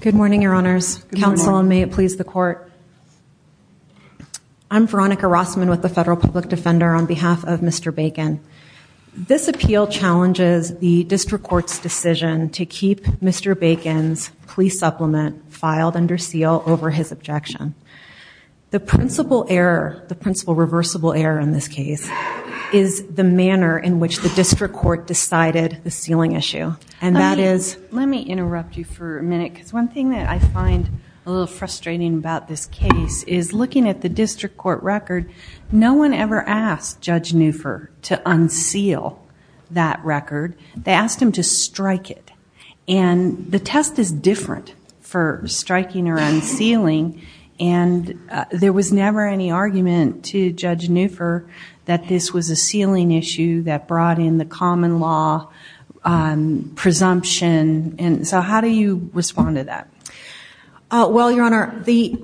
Good morning your honors. Counsel may it please the court. I'm Veronica Rossman with the Federal Public Defender on behalf of Mr. Bacon. This appeal challenges the district court's decision to keep Mr. Bacon's police supplement filed under seal over his objection. The principal error, the principal reversible error in this case, is the manner in which the district court decided the Let me interrupt you for a minute because one thing that I find a little frustrating about this case is looking at the district court record, no one ever asked Judge Neufer to unseal that record. They asked him to strike it. And the test is different for striking or unsealing and there was never any argument to Judge Neufer that this was a sealing issue that brought in the common law presumption and so how do you respond to that? Well your honor, the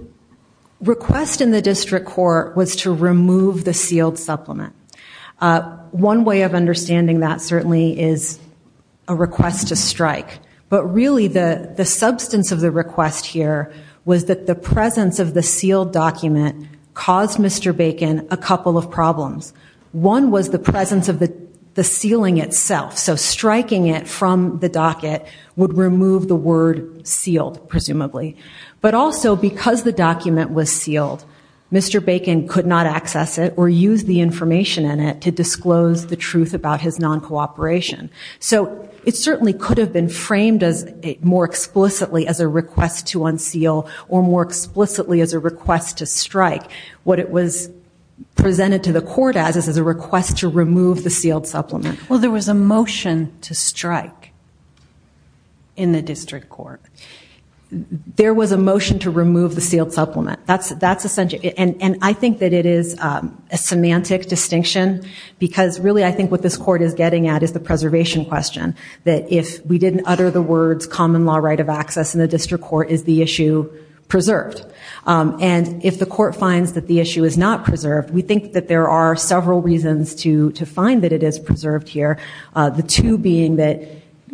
request in the district court was to remove the sealed supplement. One way of understanding that certainly is a request to strike but really the the substance of the request here was that the presence of the sealed document caused Mr. Bacon a couple of problems. One was the presence of the sealing itself so striking it from the docket would remove the word sealed presumably but also because the document was sealed Mr. Bacon could not access it or use the information in it to disclose the truth about his non-cooperation so it certainly could have been framed as more explicitly as a request to unseal or more explicitly as a request to strike what it was presented to the court as a request to strike in the district court. There was a motion to remove the sealed supplement that's that's essential and and I think that it is a semantic distinction because really I think what this court is getting at is the preservation question that if we didn't utter the words common law right of access in the district court is the issue preserved and if the court finds that the issue is not preserved we think that there are several reasons to to find that it is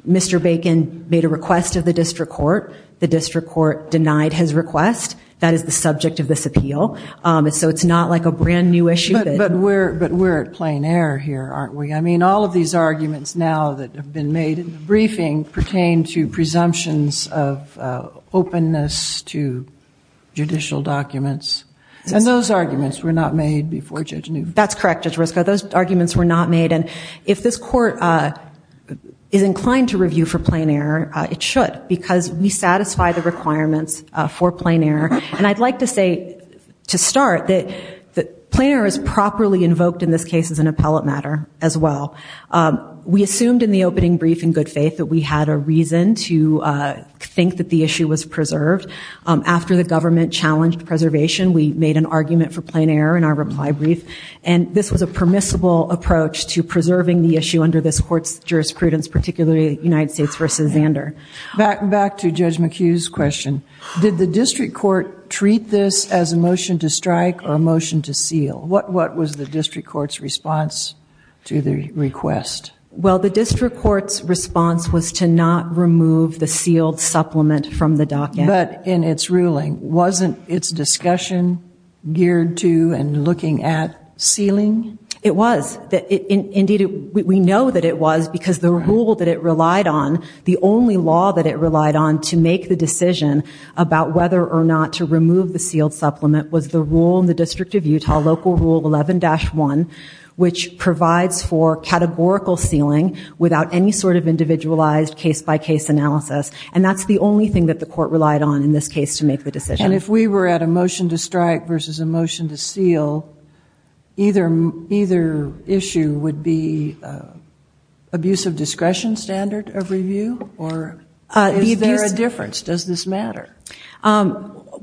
Mr. Bacon made a request of the district court the district court denied his request that is the subject of this appeal so it's not like a brand new issue. But we're at plain error here aren't we I mean all of these arguments now that have been made in the briefing pertain to presumptions of openness to judicial documents and those arguments were not made before Judge New. That's correct Judge Risco those arguments were not made and if this court is inclined to review for plain error it should because we satisfy the requirements for plain error and I'd like to say to start that that plain error is properly invoked in this case as an appellate matter as well. We assumed in the opening brief in good faith that we had a reason to think that the issue was preserved after the government challenged preservation we made an argument for plain error in our reply brief and this was a permissible approach to preserving the issue under this court's jurisprudence particularly United States versus Zander. Back back to Judge McHugh's question did the district court treat this as a motion to strike or a motion to seal what what was the district court's response to the request? Well the district court's response was to not remove the sealed supplement from the docket. But in its ruling wasn't its discussion geared to and looking at sealing? It was indeed we know that it was because the rule that it relied on the only law that it relied on to make the decision about whether or not to remove the sealed supplement was the rule in the District of Utah local rule 11-1 which provides for categorical sealing without any sort of individualized case-by-case analysis and that's the only thing that the court relied on in this case to make the decision. And if we were at a motion to strike versus a motion to seal either either issue would be abuse of discretion standard of review or is there a difference does this matter?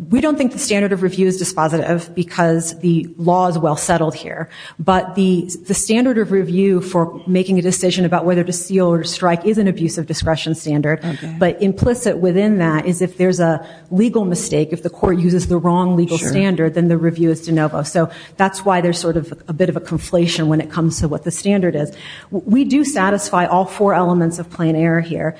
We don't think the standard of review is dispositive because the law is well settled here but the the standard of review for making a decision about whether to seal or strike is an abuse of discretion standard but implicit within that is if there's a legal mistake if the court uses the wrong legal standard then the review is de novo so that's why there's sort of a bit of a conflation when it comes to what the standard is. We do satisfy all four elements of plain error here.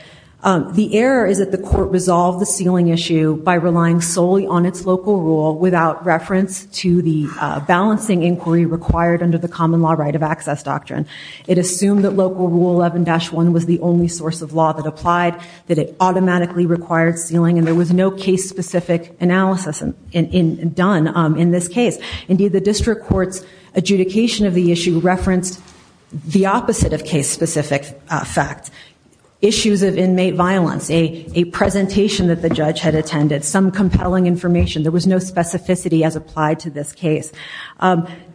The error is that the court resolved the sealing issue by relying solely on its local rule without reference to the balancing inquiry required under the common law right of access doctrine. It assumed that local rule 11-1 was the only source of law that applied that it automatically required sealing and there was no case-specific analysis done in this case. Indeed the district courts adjudication of the issue referenced the opposite of case-specific fact. Issues of inmate violence, a presentation that the judge had attended, some compelling information. There was no specificity as applied to this case.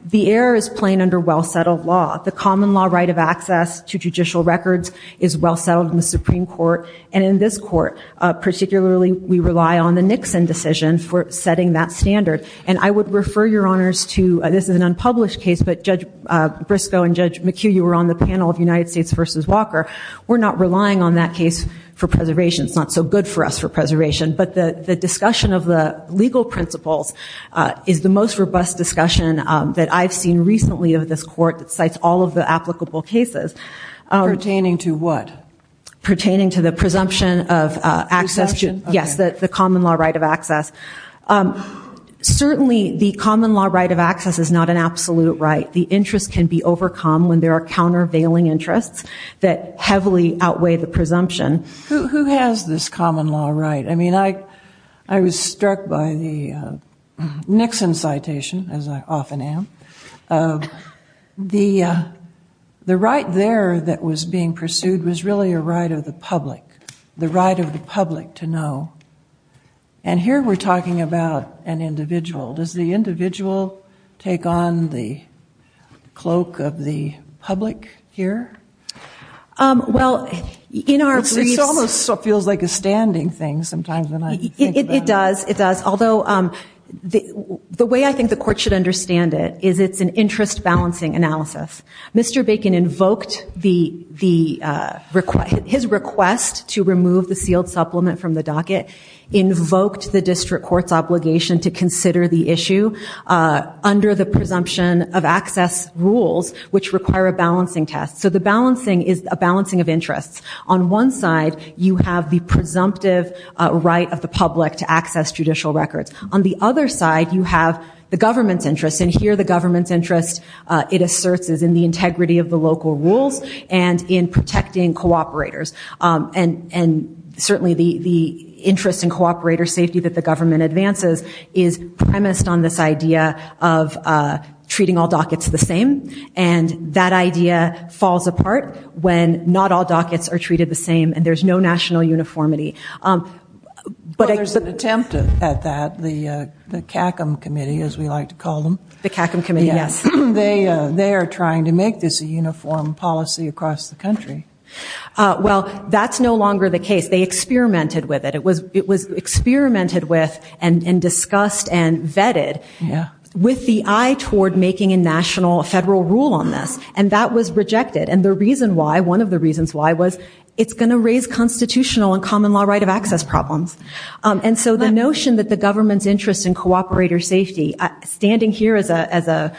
The error is plain under well settled law. The common law right of access to judicial records is well settled in the Supreme Court and in this court. Particularly we rely on the Nixon decision for setting that standard and I would refer your honors to this is an unpublished case but Judge Briscoe and Judge McHugh you were on the panel of United States versus Walker. We're not relying on that case for preservation. It's not so good for us for preservation but the the discussion of the legal principles is the most robust discussion that I've seen recently of this court that cites all of the applicable cases. Pertaining to what? Pertaining to the presumption of access. Yes the common law right of access. Certainly the common law right of access is not an absolute right. The interest can be overcome when there are countervailing interests that heavily outweigh the presumption. Who has this common law right? I mean I I was aware that was being pursued was really a right of the public. The right of the public to know and here we're talking about an individual. Does the individual take on the cloak of the public here? Well in our... It almost feels like a standing thing sometimes. It does it does although the the way I think the court should understand it is it's an interest balancing analysis. Mr. Bacon invoked the the request his request to remove the sealed supplement from the docket invoked the district courts obligation to consider the issue under the presumption of access rules which require a balancing test. So the balancing is a balancing of interests. On one side you have the presumptive right of the public to access judicial records. On the other side you have the government's interest and here the government's interest it asserts is in the integrity of the local rules and in protecting cooperators and and certainly the the interest in cooperator safety that the government advances is premised on this idea of treating all dockets the same and that idea falls apart when not all dockets are treated the same and there's no national uniformity. But there's an attempt at that the CACM committee as we like to call them. The make this a uniform policy across the country. Well that's no longer the case they experimented with it it was it was experimented with and and discussed and vetted with the eye toward making a national federal rule on this and that was rejected and the reason why one of the reasons why was it's going to raise constitutional and common law right of access problems and so the notion that the government's interest in cooperator safety standing here as a as a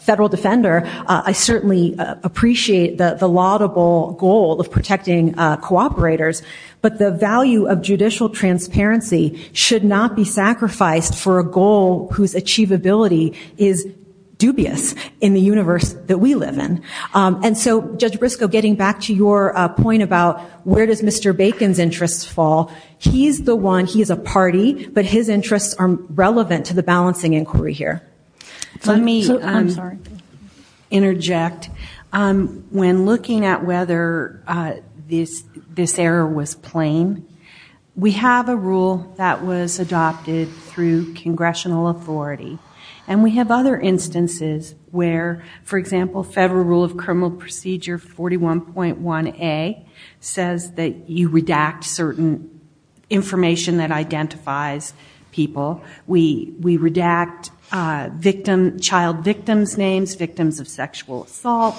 federal defender I certainly appreciate that the laudable goal of protecting cooperators but the value of judicial transparency should not be sacrificed for a goal whose achievability is dubious in the universe that we live in and so Judge Briscoe getting back to your point about where does Mr. Bacon's interests fall he's the one he is a party but his interests are relevant to the balancing inquiry here. Let me interject when looking at whether this this error was plain we have a rule that was adopted through congressional authority and we have other instances where for example federal rule of criminal procedure 41.1 a says that you redact certain information that redact victim child victims names victims of sexual assault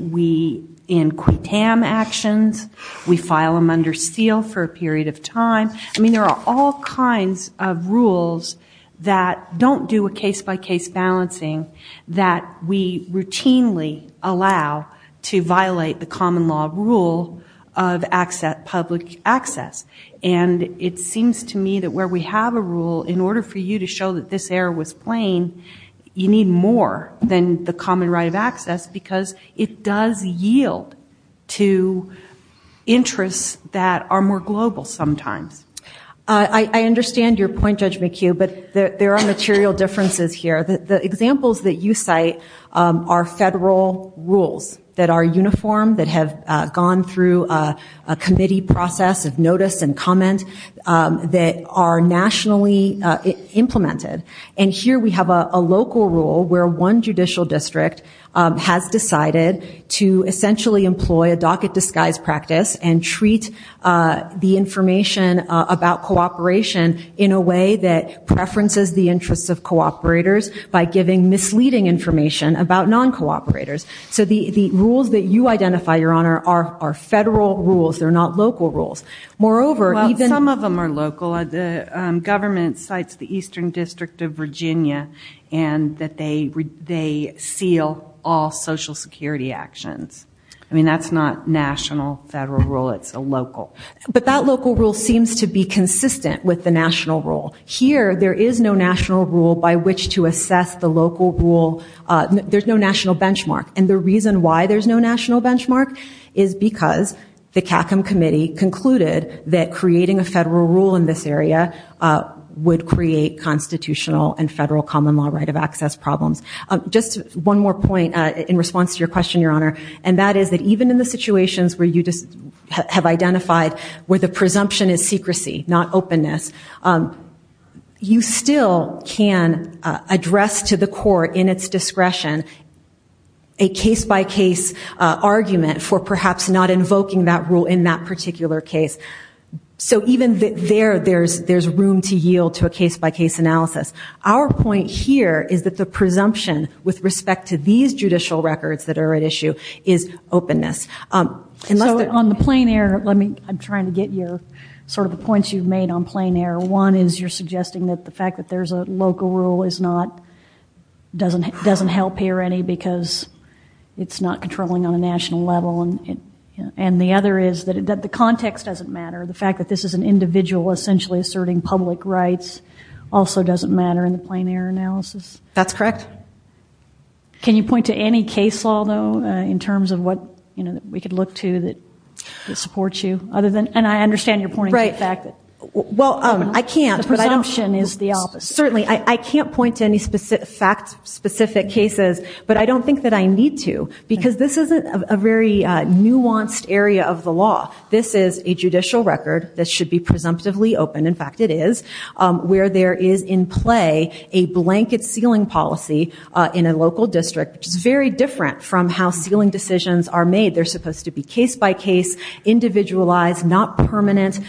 we in quit tam actions we file them under seal for a period of time I mean there are all kinds of rules that don't do a case-by-case balancing that we routinely allow to violate the common law rule of access public access and it seems to me that where we have a rule in order for you to show that this error was plain you need more than the common right of access because it does yield to interests that are more global sometimes. I understand your point Judge McHugh but there are material differences here that the examples that you cite are federal rules that are uniform that have gone through a committee process of notice and comment that are nationally implemented and here we have a local rule where one judicial district has decided to essentially employ a docket disguise practice and treat the information about cooperation in a way that preferences the interests of cooperators by giving misleading information about non-cooperators so the the rules that you identify your honor are federal rules they're not local rules moreover even some of them are local the government cites the Eastern District of Virginia and that they they seal all social security actions I mean that's not national federal rule it's a local but that local rule seems to be consistent with the national rule here there is no national rule by which to assess the local rule there's no benchmark and the reason why there's no national benchmark is because the CACM committee concluded that creating a federal rule in this area would create constitutional and federal common law right of access problems just one more point in response to your question your honor and that is that even in the situations where you just have identified where the presumption is secrecy not openness you still can address to the court in its discretion a case-by-case argument for perhaps not invoking that rule in that particular case so even there there's there's room to yield to a case-by-case analysis our point here is that the presumption with respect to these judicial records that are at issue is openness unless they're on the plain air let me I'm trying to get your sort of the points you've made on plain air one is you're suggesting that the fact that there's a local rule is not doesn't it doesn't help here any because it's not controlling on a national level and it and the other is that it that the context doesn't matter the fact that this is an individual essentially asserting public rights also doesn't matter in the plain air analysis that's correct can you point to any case although in terms of what you know that we could look to that it supports you other than and I understand you're certainly I can't point to any specific fact specific cases but I don't think that I need to because this is a very nuanced area of the law this is a judicial record that should be presumptively open in fact it is where there is in play a blanket ceiling policy in a local district which is very different from how ceiling decisions are made they're supposed to be case-by-case individualized not permanent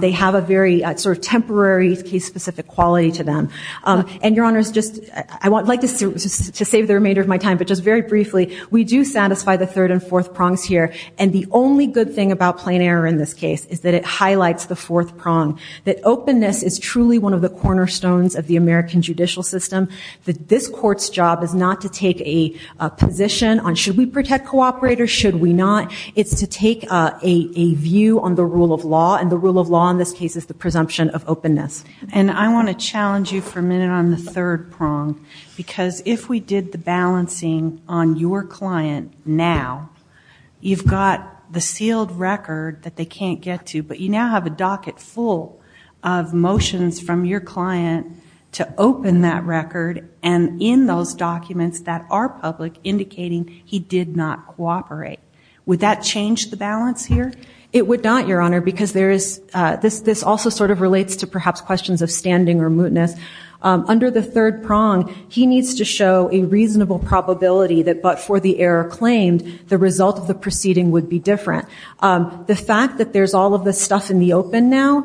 they have a very temporary case-specific quality to them and your honors just I want to save the remainder of my time but just very briefly we do satisfy the third and fourth prongs here and the only good thing about plain air in this case is that it highlights the fourth prong that openness is truly one of the cornerstones of the American judicial system that this court's job is not to take a position on should we protect co-operators should we not it's to take a view on the rule of law and the rule of law in this case is the presumption of openness and I want to challenge you for a minute on the third prong because if we did the balancing on your client now you've got the sealed record that they can't get to but you now have a docket full of motions from your client to open that record and in those cooperate with that change the balance here it would not your honor because there is this this also sort of relates to perhaps questions of standing or mootness under the third prong he needs to show a reasonable probability that but for the error claimed the result of the proceeding would be different the fact that there's all of the stuff in the open now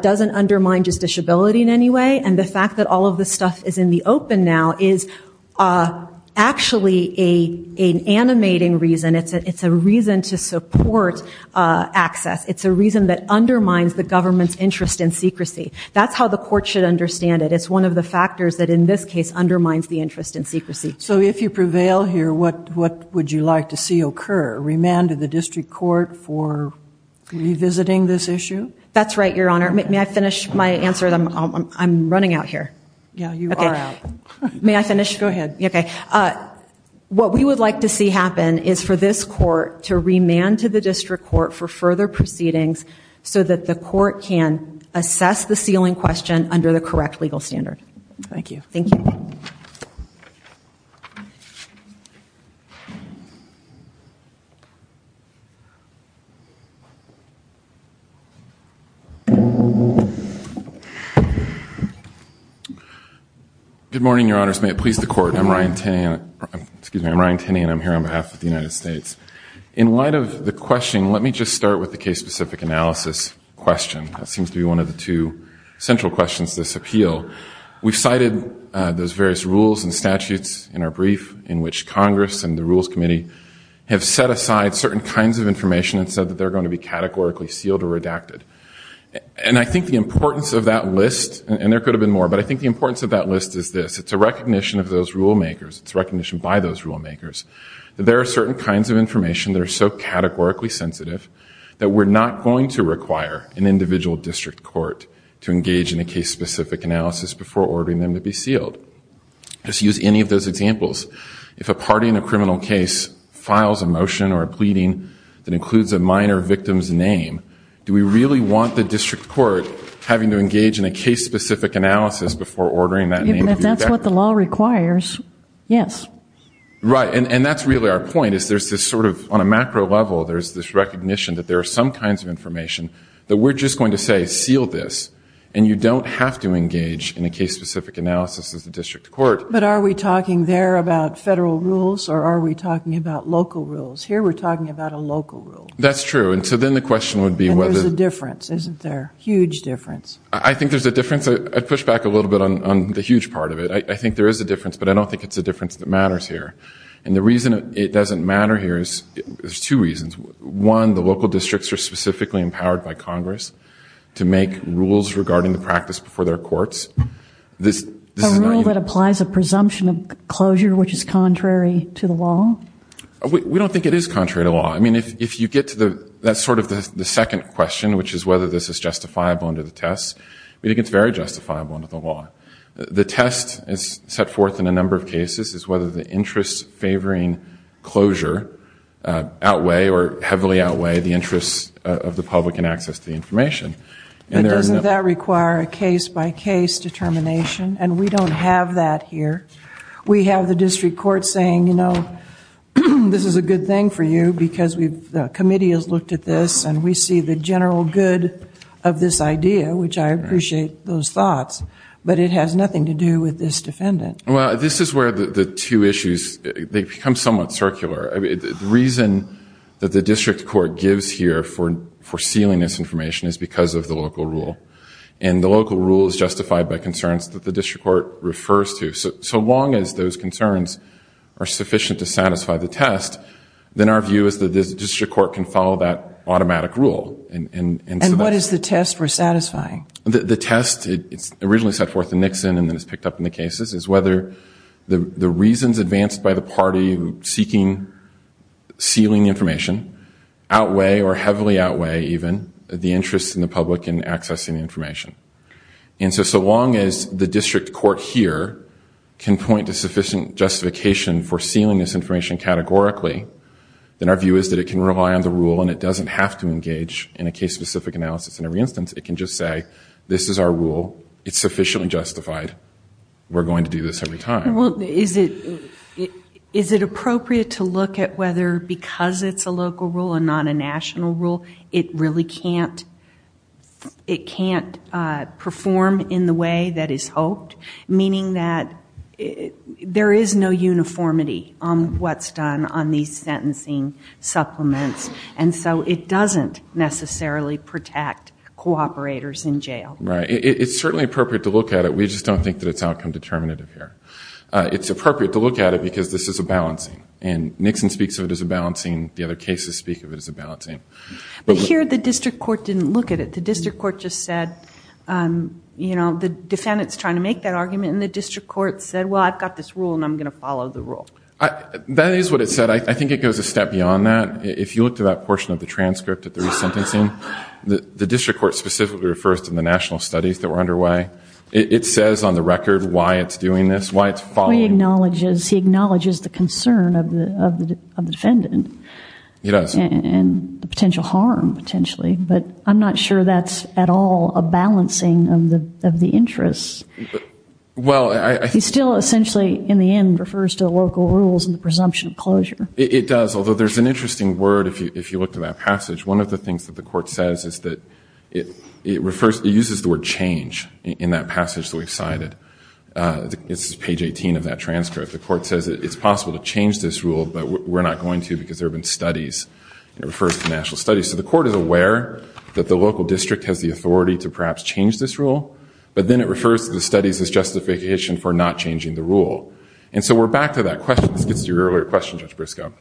doesn't undermine justiciability in any way and the fact that all of the stuff is in the open now is actually a animating reason it's it's a reason to support access it's a reason that undermines the government's interest in secrecy that's how the court should understand it is one of the factors that in this case undermines the interest in secrecy so if you prevail here what what would you like to see occur remanded the district court for revisiting this issue that's right your answer them I'm running out here yeah you okay may I finish go ahead okay what we would like to see happen is for this court to remand to the district court for further proceedings so that the court can assess the ceiling question under the correct legal standard thank you thank you good morning your honors may it please the court I'm Ryan tan excuse me I'm Ryan tinny and I'm here on behalf of the United States in light of the question let me just start with the case specific analysis question that seems to be one of the two central questions this appeal we've cited those various rules and statutes in our brief in which Congress and the Rules Committee have set aside certain kinds of information and said that they're going to be categorically sealed or redacted and I think the importance of that list and there could have been more but I think the importance of that list is this it's a recognition of those rulemakers it's recognition by those rulemakers there are certain kinds of information that are so categorically sensitive that we're not going to require an individual district court to engage in a case specific analysis before ordering them to be sealed just use any of those examples if a party in a criminal case files a motion or a pleading that do we really want the district court having to engage in a case specific analysis before ordering that that's what the law requires yes right and that's really our point is there's this sort of on a macro level there's this recognition that there are some kinds of information that we're just going to say seal this and you don't have to engage in a case specific analysis as the district court but are we talking there about federal rules or are we talking about local rules here we're talking about a local rule that's true and so then the question would be whether the difference isn't there huge difference I think there's a difference I push back a little bit on the huge part of it I think there is a difference but I don't think it's a difference that matters here and the reason it doesn't matter here is there's two reasons one the local districts are specifically empowered by Congress to make rules regarding the practice before their courts this rule that applies a presumption of closure which is contrary to the law we don't think it is contrary to law I mean if you get to the that's sort of the second question which is whether this is justifiable under the test but it gets very justifiable under the law the test is set forth in a number of cases is whether the interest favoring closure outweigh or heavily outweigh the interests of the public and access to the information and that require a case-by-case determination and we don't have that here we have the district court saying you know this is a because we've the committee has looked at this and we see the general good of this idea which I appreciate those thoughts but it has nothing to do with this defendant well this is where the two issues they become somewhat circular I mean the reason that the district court gives here for for sealing this information is because of the local rule and the local rule is justified by concerns that the district court refers to so long as those the test then our view is that this district court can follow that automatic rule and what is the test for satisfying the test it's originally set forth the Nixon and then it's picked up in the cases is whether the the reasons advanced by the party seeking sealing information outweigh or heavily outweigh even the interest in the public in accessing information and so so long as the district court here can point to sufficient justification for sealing this information categorically then our view is that it can rely on the rule and it doesn't have to engage in a case-specific analysis in every instance it can just say this is our rule it's sufficiently justified we're going to do this every time well is it is it appropriate to look at whether because it's a local rule and not a national rule it really can't it can't perform in a way that is hoped meaning that there is no uniformity on what's done on these sentencing supplements and so it doesn't necessarily protect co-operators in jail right it's certainly appropriate to look at it we just don't think that it's outcome determinative here it's appropriate to look at it because this is a balancing and Nixon speaks of it as a balancing the other cases speak of it as a balancing but here the district court didn't look at it the district court just said you know the defendants trying to make that argument in the district court said well I've got this rule and I'm gonna follow the rule I that is what it said I think it goes a step beyond that if you look to that portion of the transcript at the resentencing the district court specifically refers to the national studies that were underway it says on the record why it's doing this why it's falling knowledge is he acknowledges the concern of the defendant yes and the potential harm potentially but I'm not sure that's at all a balancing of the of the interests well I still essentially in the end refers to the local rules and the presumption of closure it does although there's an interesting word if you if you look to that passage one of the things that the court says is that it it refers to uses the word change in that passage so excited it's page 18 of that transcript the court says it's possible to change this rule but we're not going to because there have been studies it refers to national studies so the court is aware that the local district has the authority to perhaps change this rule but then it refers to the studies as justification for not changing the rule and so we're back to that question this gets to your earlier question judge Briscoe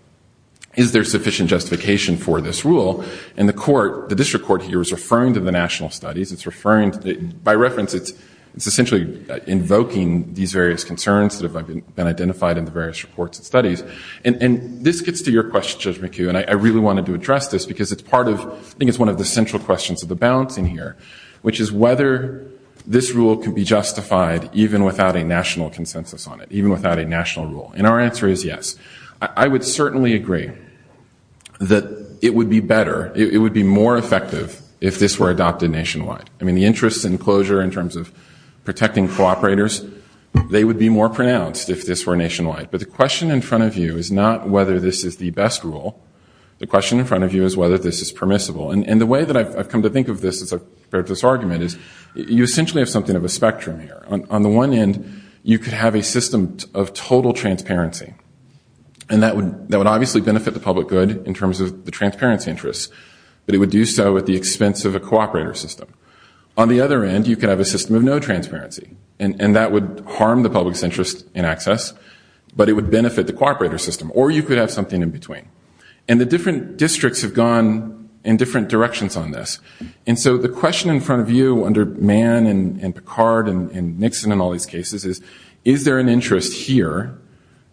is there sufficient justification for this rule and the court the district court here is referring to the national studies it's referring to by reference it's it's essentially invoking these various concerns that have been identified in the various reports and studies and and this gets to your question judge McHugh and I really wanted to address this because it's part of I think it's one of the central questions of the bouncing here which is whether this rule can be justified even without a national consensus on it even without a national rule and our answer is yes I would certainly agree that it would be better it would be more effective if this were adopted nationwide I mean the interest in closure in terms of protecting cooperators they would be more pronounced if this were nationwide but the question in front of you is not whether this is the best rule the question in front of you is whether this is permissible and and the way that I've come to think of this as a practice argument is you essentially have something of a spectrum here on the one end you could have a system of total transparency and that would that would obviously benefit the public good in terms of the transparency interests but it would do so at the expense of a cooperator system on the other end you could have a system of no transparency and and that would harm the public's interest in access but it would benefit the cooperator system or you could have something in between and the different districts have gone in different directions on this and so the question in front of you under Mann and Picard and Nixon and all these cases is is there an interest here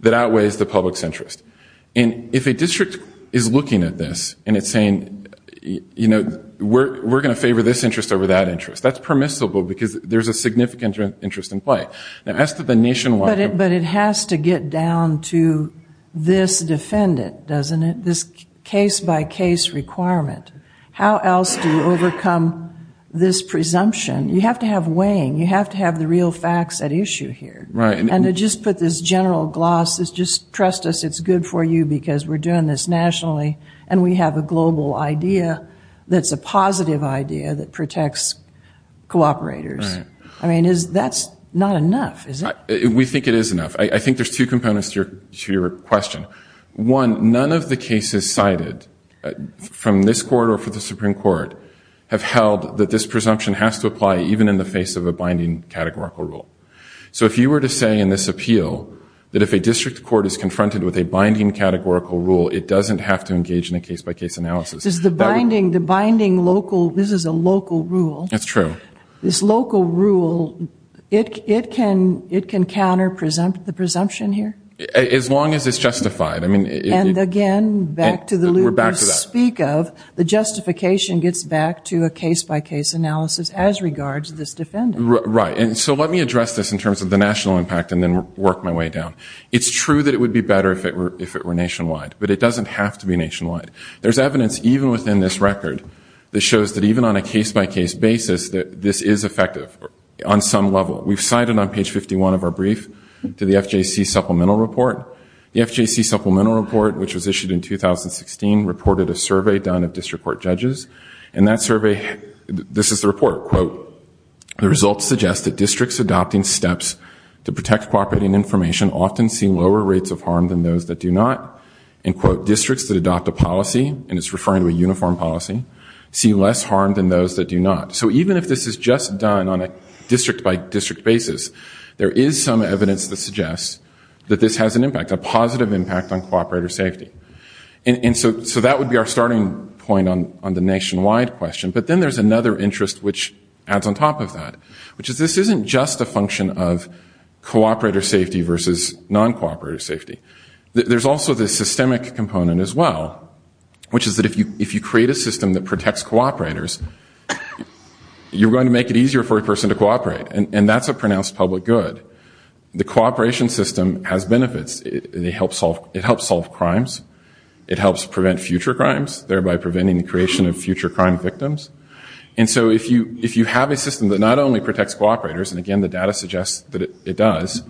that outweighs the public's interest and if a district is looking at this and it's saying you know we're we're gonna favor this interest over that interest that's permissible because there's a significant interest in play now as to the nationwide it but it has to get down to this defendant doesn't it this case-by-case requirement how else do you overcome this presumption you have to have weighing you have to have the real facts at issue here right and it just put this general gloss is just trust us it's good for you because we're doing this nationally and we have a global idea that's a positive idea that protects cooperators I mean is that's not enough is it we think it is enough I think there's two components to your question one none of the cases cited from this quarter for the Supreme Court have held that this presumption has to apply even in the face of a binding categorical rule so if you were to say in this appeal that if a district court is confronted with a binding categorical rule it doesn't have to engage in a case-by-case analysis is the binding the binding local this is a local rule that's true this local rule it can it can counter presumptive the presumption here as long as it's justified I mean and again back to the loop we're back to that speak of the justification gets back to a case-by-case analysis as regards this defendant right and so let me address this in terms of the national impact and then work my way down it's true that it would be better if it were if it were nationwide but it doesn't have to be nationwide there's evidence even within this record that shows that even on a case-by-case basis that this is effective on some level we've cited on page 51 of our brief to the FJC supplemental report the FJC supplemental report which was issued in 2016 reported a survey done of district court judges and that survey this is the report quote the results suggest that districts adopting steps to protect cooperating information often see lower rates of harm than those that do not in quote districts that adopt a policy and it's referring to a uniform policy see less harm than those that do not so even if this is just done on a district-by-district basis there is some evidence that suggests that this has an impact a positive impact on cooperator safety and so so that would be our starting point on on the nationwide question but then there's another interest which adds on top of that which is this isn't just a function of cooperator safety versus non cooperator safety there's also the systemic component as well which is that if you create a system that protects cooperators you're going to make it easier for a person to cooperate and that's a pronounced public good the cooperation system has benefits it helps solve it helps solve crimes it helps prevent future crimes thereby preventing the creation of future crime victims and so if you if you have a system that not only protects cooperators and again the data suggests that it does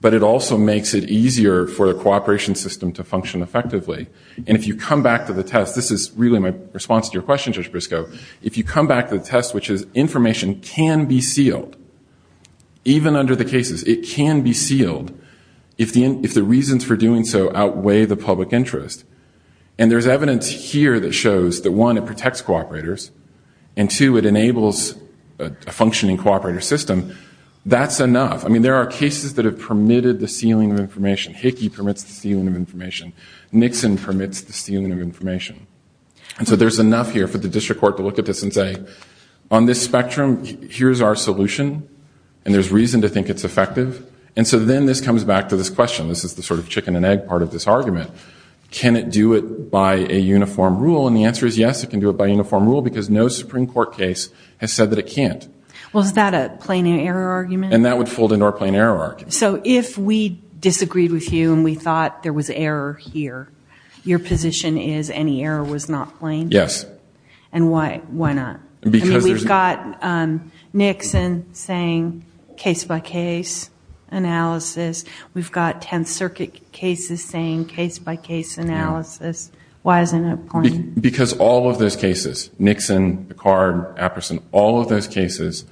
but it also makes it easier for the cooperation system to function effectively and if you come back to the test this is really my response to your question just Briscoe if you come back to the test which is information can be sealed even under the cases it can be sealed if the end if the reasons for doing so outweigh the public interest and there's evidence here that shows that one it protects cooperators and two it enables a functioning cooperator system that's enough I mean there are cases that have information Nixon permits the stealing of information and so there's enough here for the district court to look at this and say on this spectrum here's our solution and there's reason to think it's effective and so then this comes back to this question this is the sort of chicken and egg part of this argument can it do it by a uniform rule and the answer is yes it can do it by uniform rule because no Supreme Court case has said that it can't well is that a plain error argument and that would fold into our plain error so if we disagreed with you and we thought there was error here your position is any error was not blamed yes and why why not because we've got Nixon saying case-by-case analysis we've got Tenth Circuit cases saying case-by-case analysis why isn't it because all of those cases Nixon the card a person all of those cases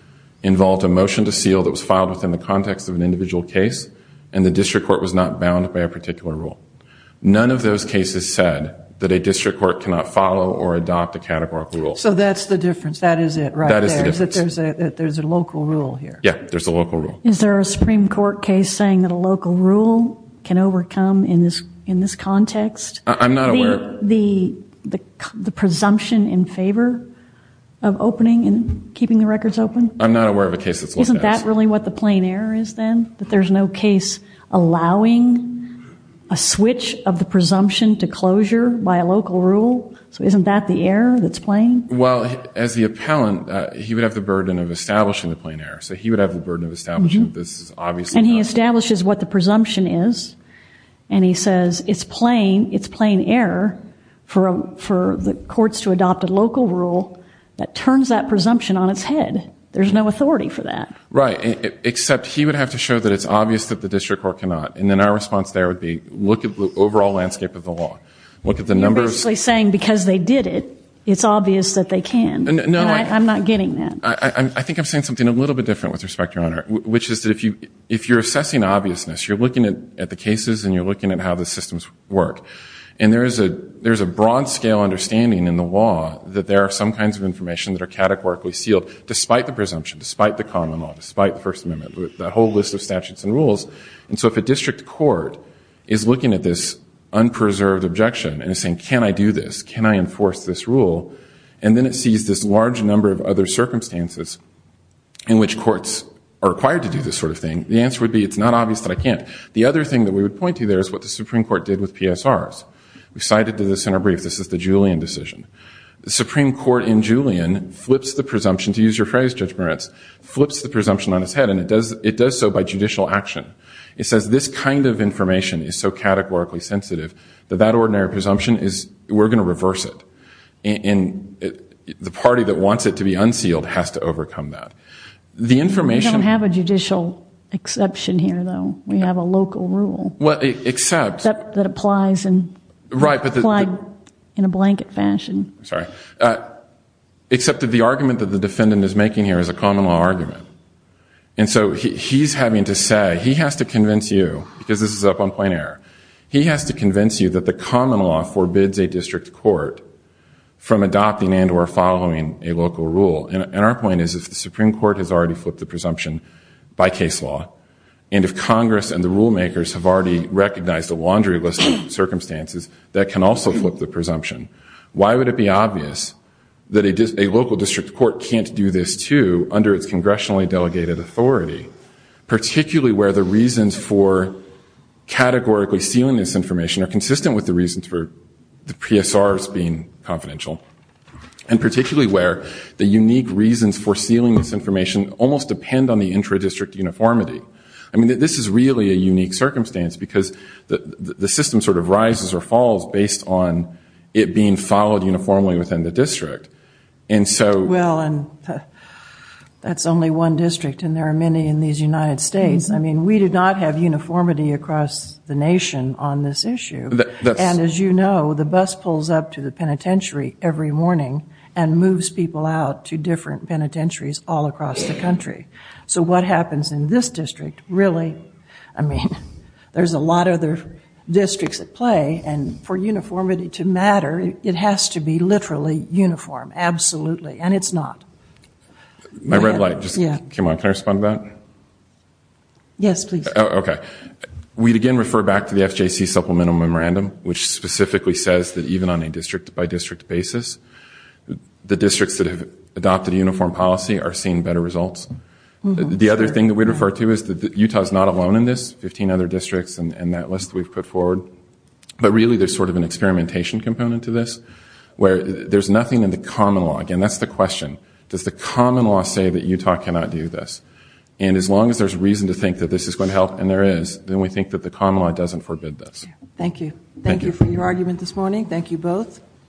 involved a motion to seal that was filed within the context of an individual case and the district court was not bound by a particular rule none of those cases said that a district court cannot follow or adopt a categorical rule so that's the difference that is it right that is that there's a there's a local rule here yeah there's a local rule is there a Supreme Court case saying that a local rule can overcome in this in this context I'm not aware the the presumption in favor of opening and keeping the records open I'm not aware of a case isn't that really what the plain error is then that there's no case allowing a switch of the presumption to closure by a local rule so isn't that the error that's playing well as the appellant he would have the burden of establishing the plain error so he would have the burden of establishing this obvious and he establishes what the presumption is and he says it's plain it's plain error for for the courts to adopt a local rule that turns that presumption on its head there's no authority for that right except he would have to show that it's obvious that the district court cannot and then our response there would be look at the overall landscape of the law look at the numbers saying because they did it it's obvious that they can no I'm not getting that I think I'm saying something a little bit different with respect your honor which is that if you if you're assessing obviousness you're looking at the cases and you're looking at how the systems work and there is a there's a broad scale understanding in the law that there are some kinds of information that are categorically sealed despite the presumption despite the common law despite the First Amendment with that whole list of statutes and rules and so if a district court is looking at this unpreserved objection and saying can I do this can I enforce this rule and then it sees this large number of other circumstances in which courts are required to do this sort of thing the answer would be it's not obvious that I can't the other thing that we would point to there is what the Supreme Court did with PS ours we cited to the center brief this is the Julian decision the Supreme Court in Julian flips the presumption to use your phrase Judge Moritz flips the presumption on his head and it does it does so by judicial action it says this kind of information is so categorically sensitive that that ordinary presumption is we're gonna reverse it in the party that wants it to be unsealed has to overcome that the information have a judicial exception here though we have a local rule what except that applies and in a blanket fashion sorry except that the argument that the defendant is making here is a common law argument and so he's having to say he has to convince you because this is up on point error he has to convince you that the common law forbids a district court from adopting and or following a local rule and our point is if the Supreme Court has already flipped the presumption by case law and if Congress and the rulemakers have already recognized a circumstances that can also flip the presumption why would it be obvious that it is a local district court can't do this to under its congressionally delegated authority particularly where the reasons for categorically sealing this information are consistent with the reasons for the PS ours being confidential and particularly where the unique reasons for sealing this information almost depend on the intra district uniformity I mean this is really a unique circumstance because the system sort of rises or falls based on it being followed uniformly within the district and so well and that's only one district and there are many in these United States I mean we did not have uniformity across the nation on this issue that and as you know the bus pulls up to the penitentiary every morning and moves people out to different penitentiaries all across the country so what happens in this district really I mean there's a lot of their districts at play and for uniformity to matter it has to be literally uniform absolutely and it's not my red light just yeah come on can I respond that yes please okay we'd again refer back to the FJC supplemental memorandum which specifically says that even on a district-by-district basis the districts that have adopted a uniform policy are seeing better results the other thing that we refer to is that Utah is not a lone in this 15 other districts and that list we've put forward but really there's sort of an experimentation component to this where there's nothing in the common law again that's the question does the common law say that Utah cannot do this and as long as there's reason to think that this is going to help and there is then we think that the common law doesn't forbid this thank you thank you for your argument this morning thank you both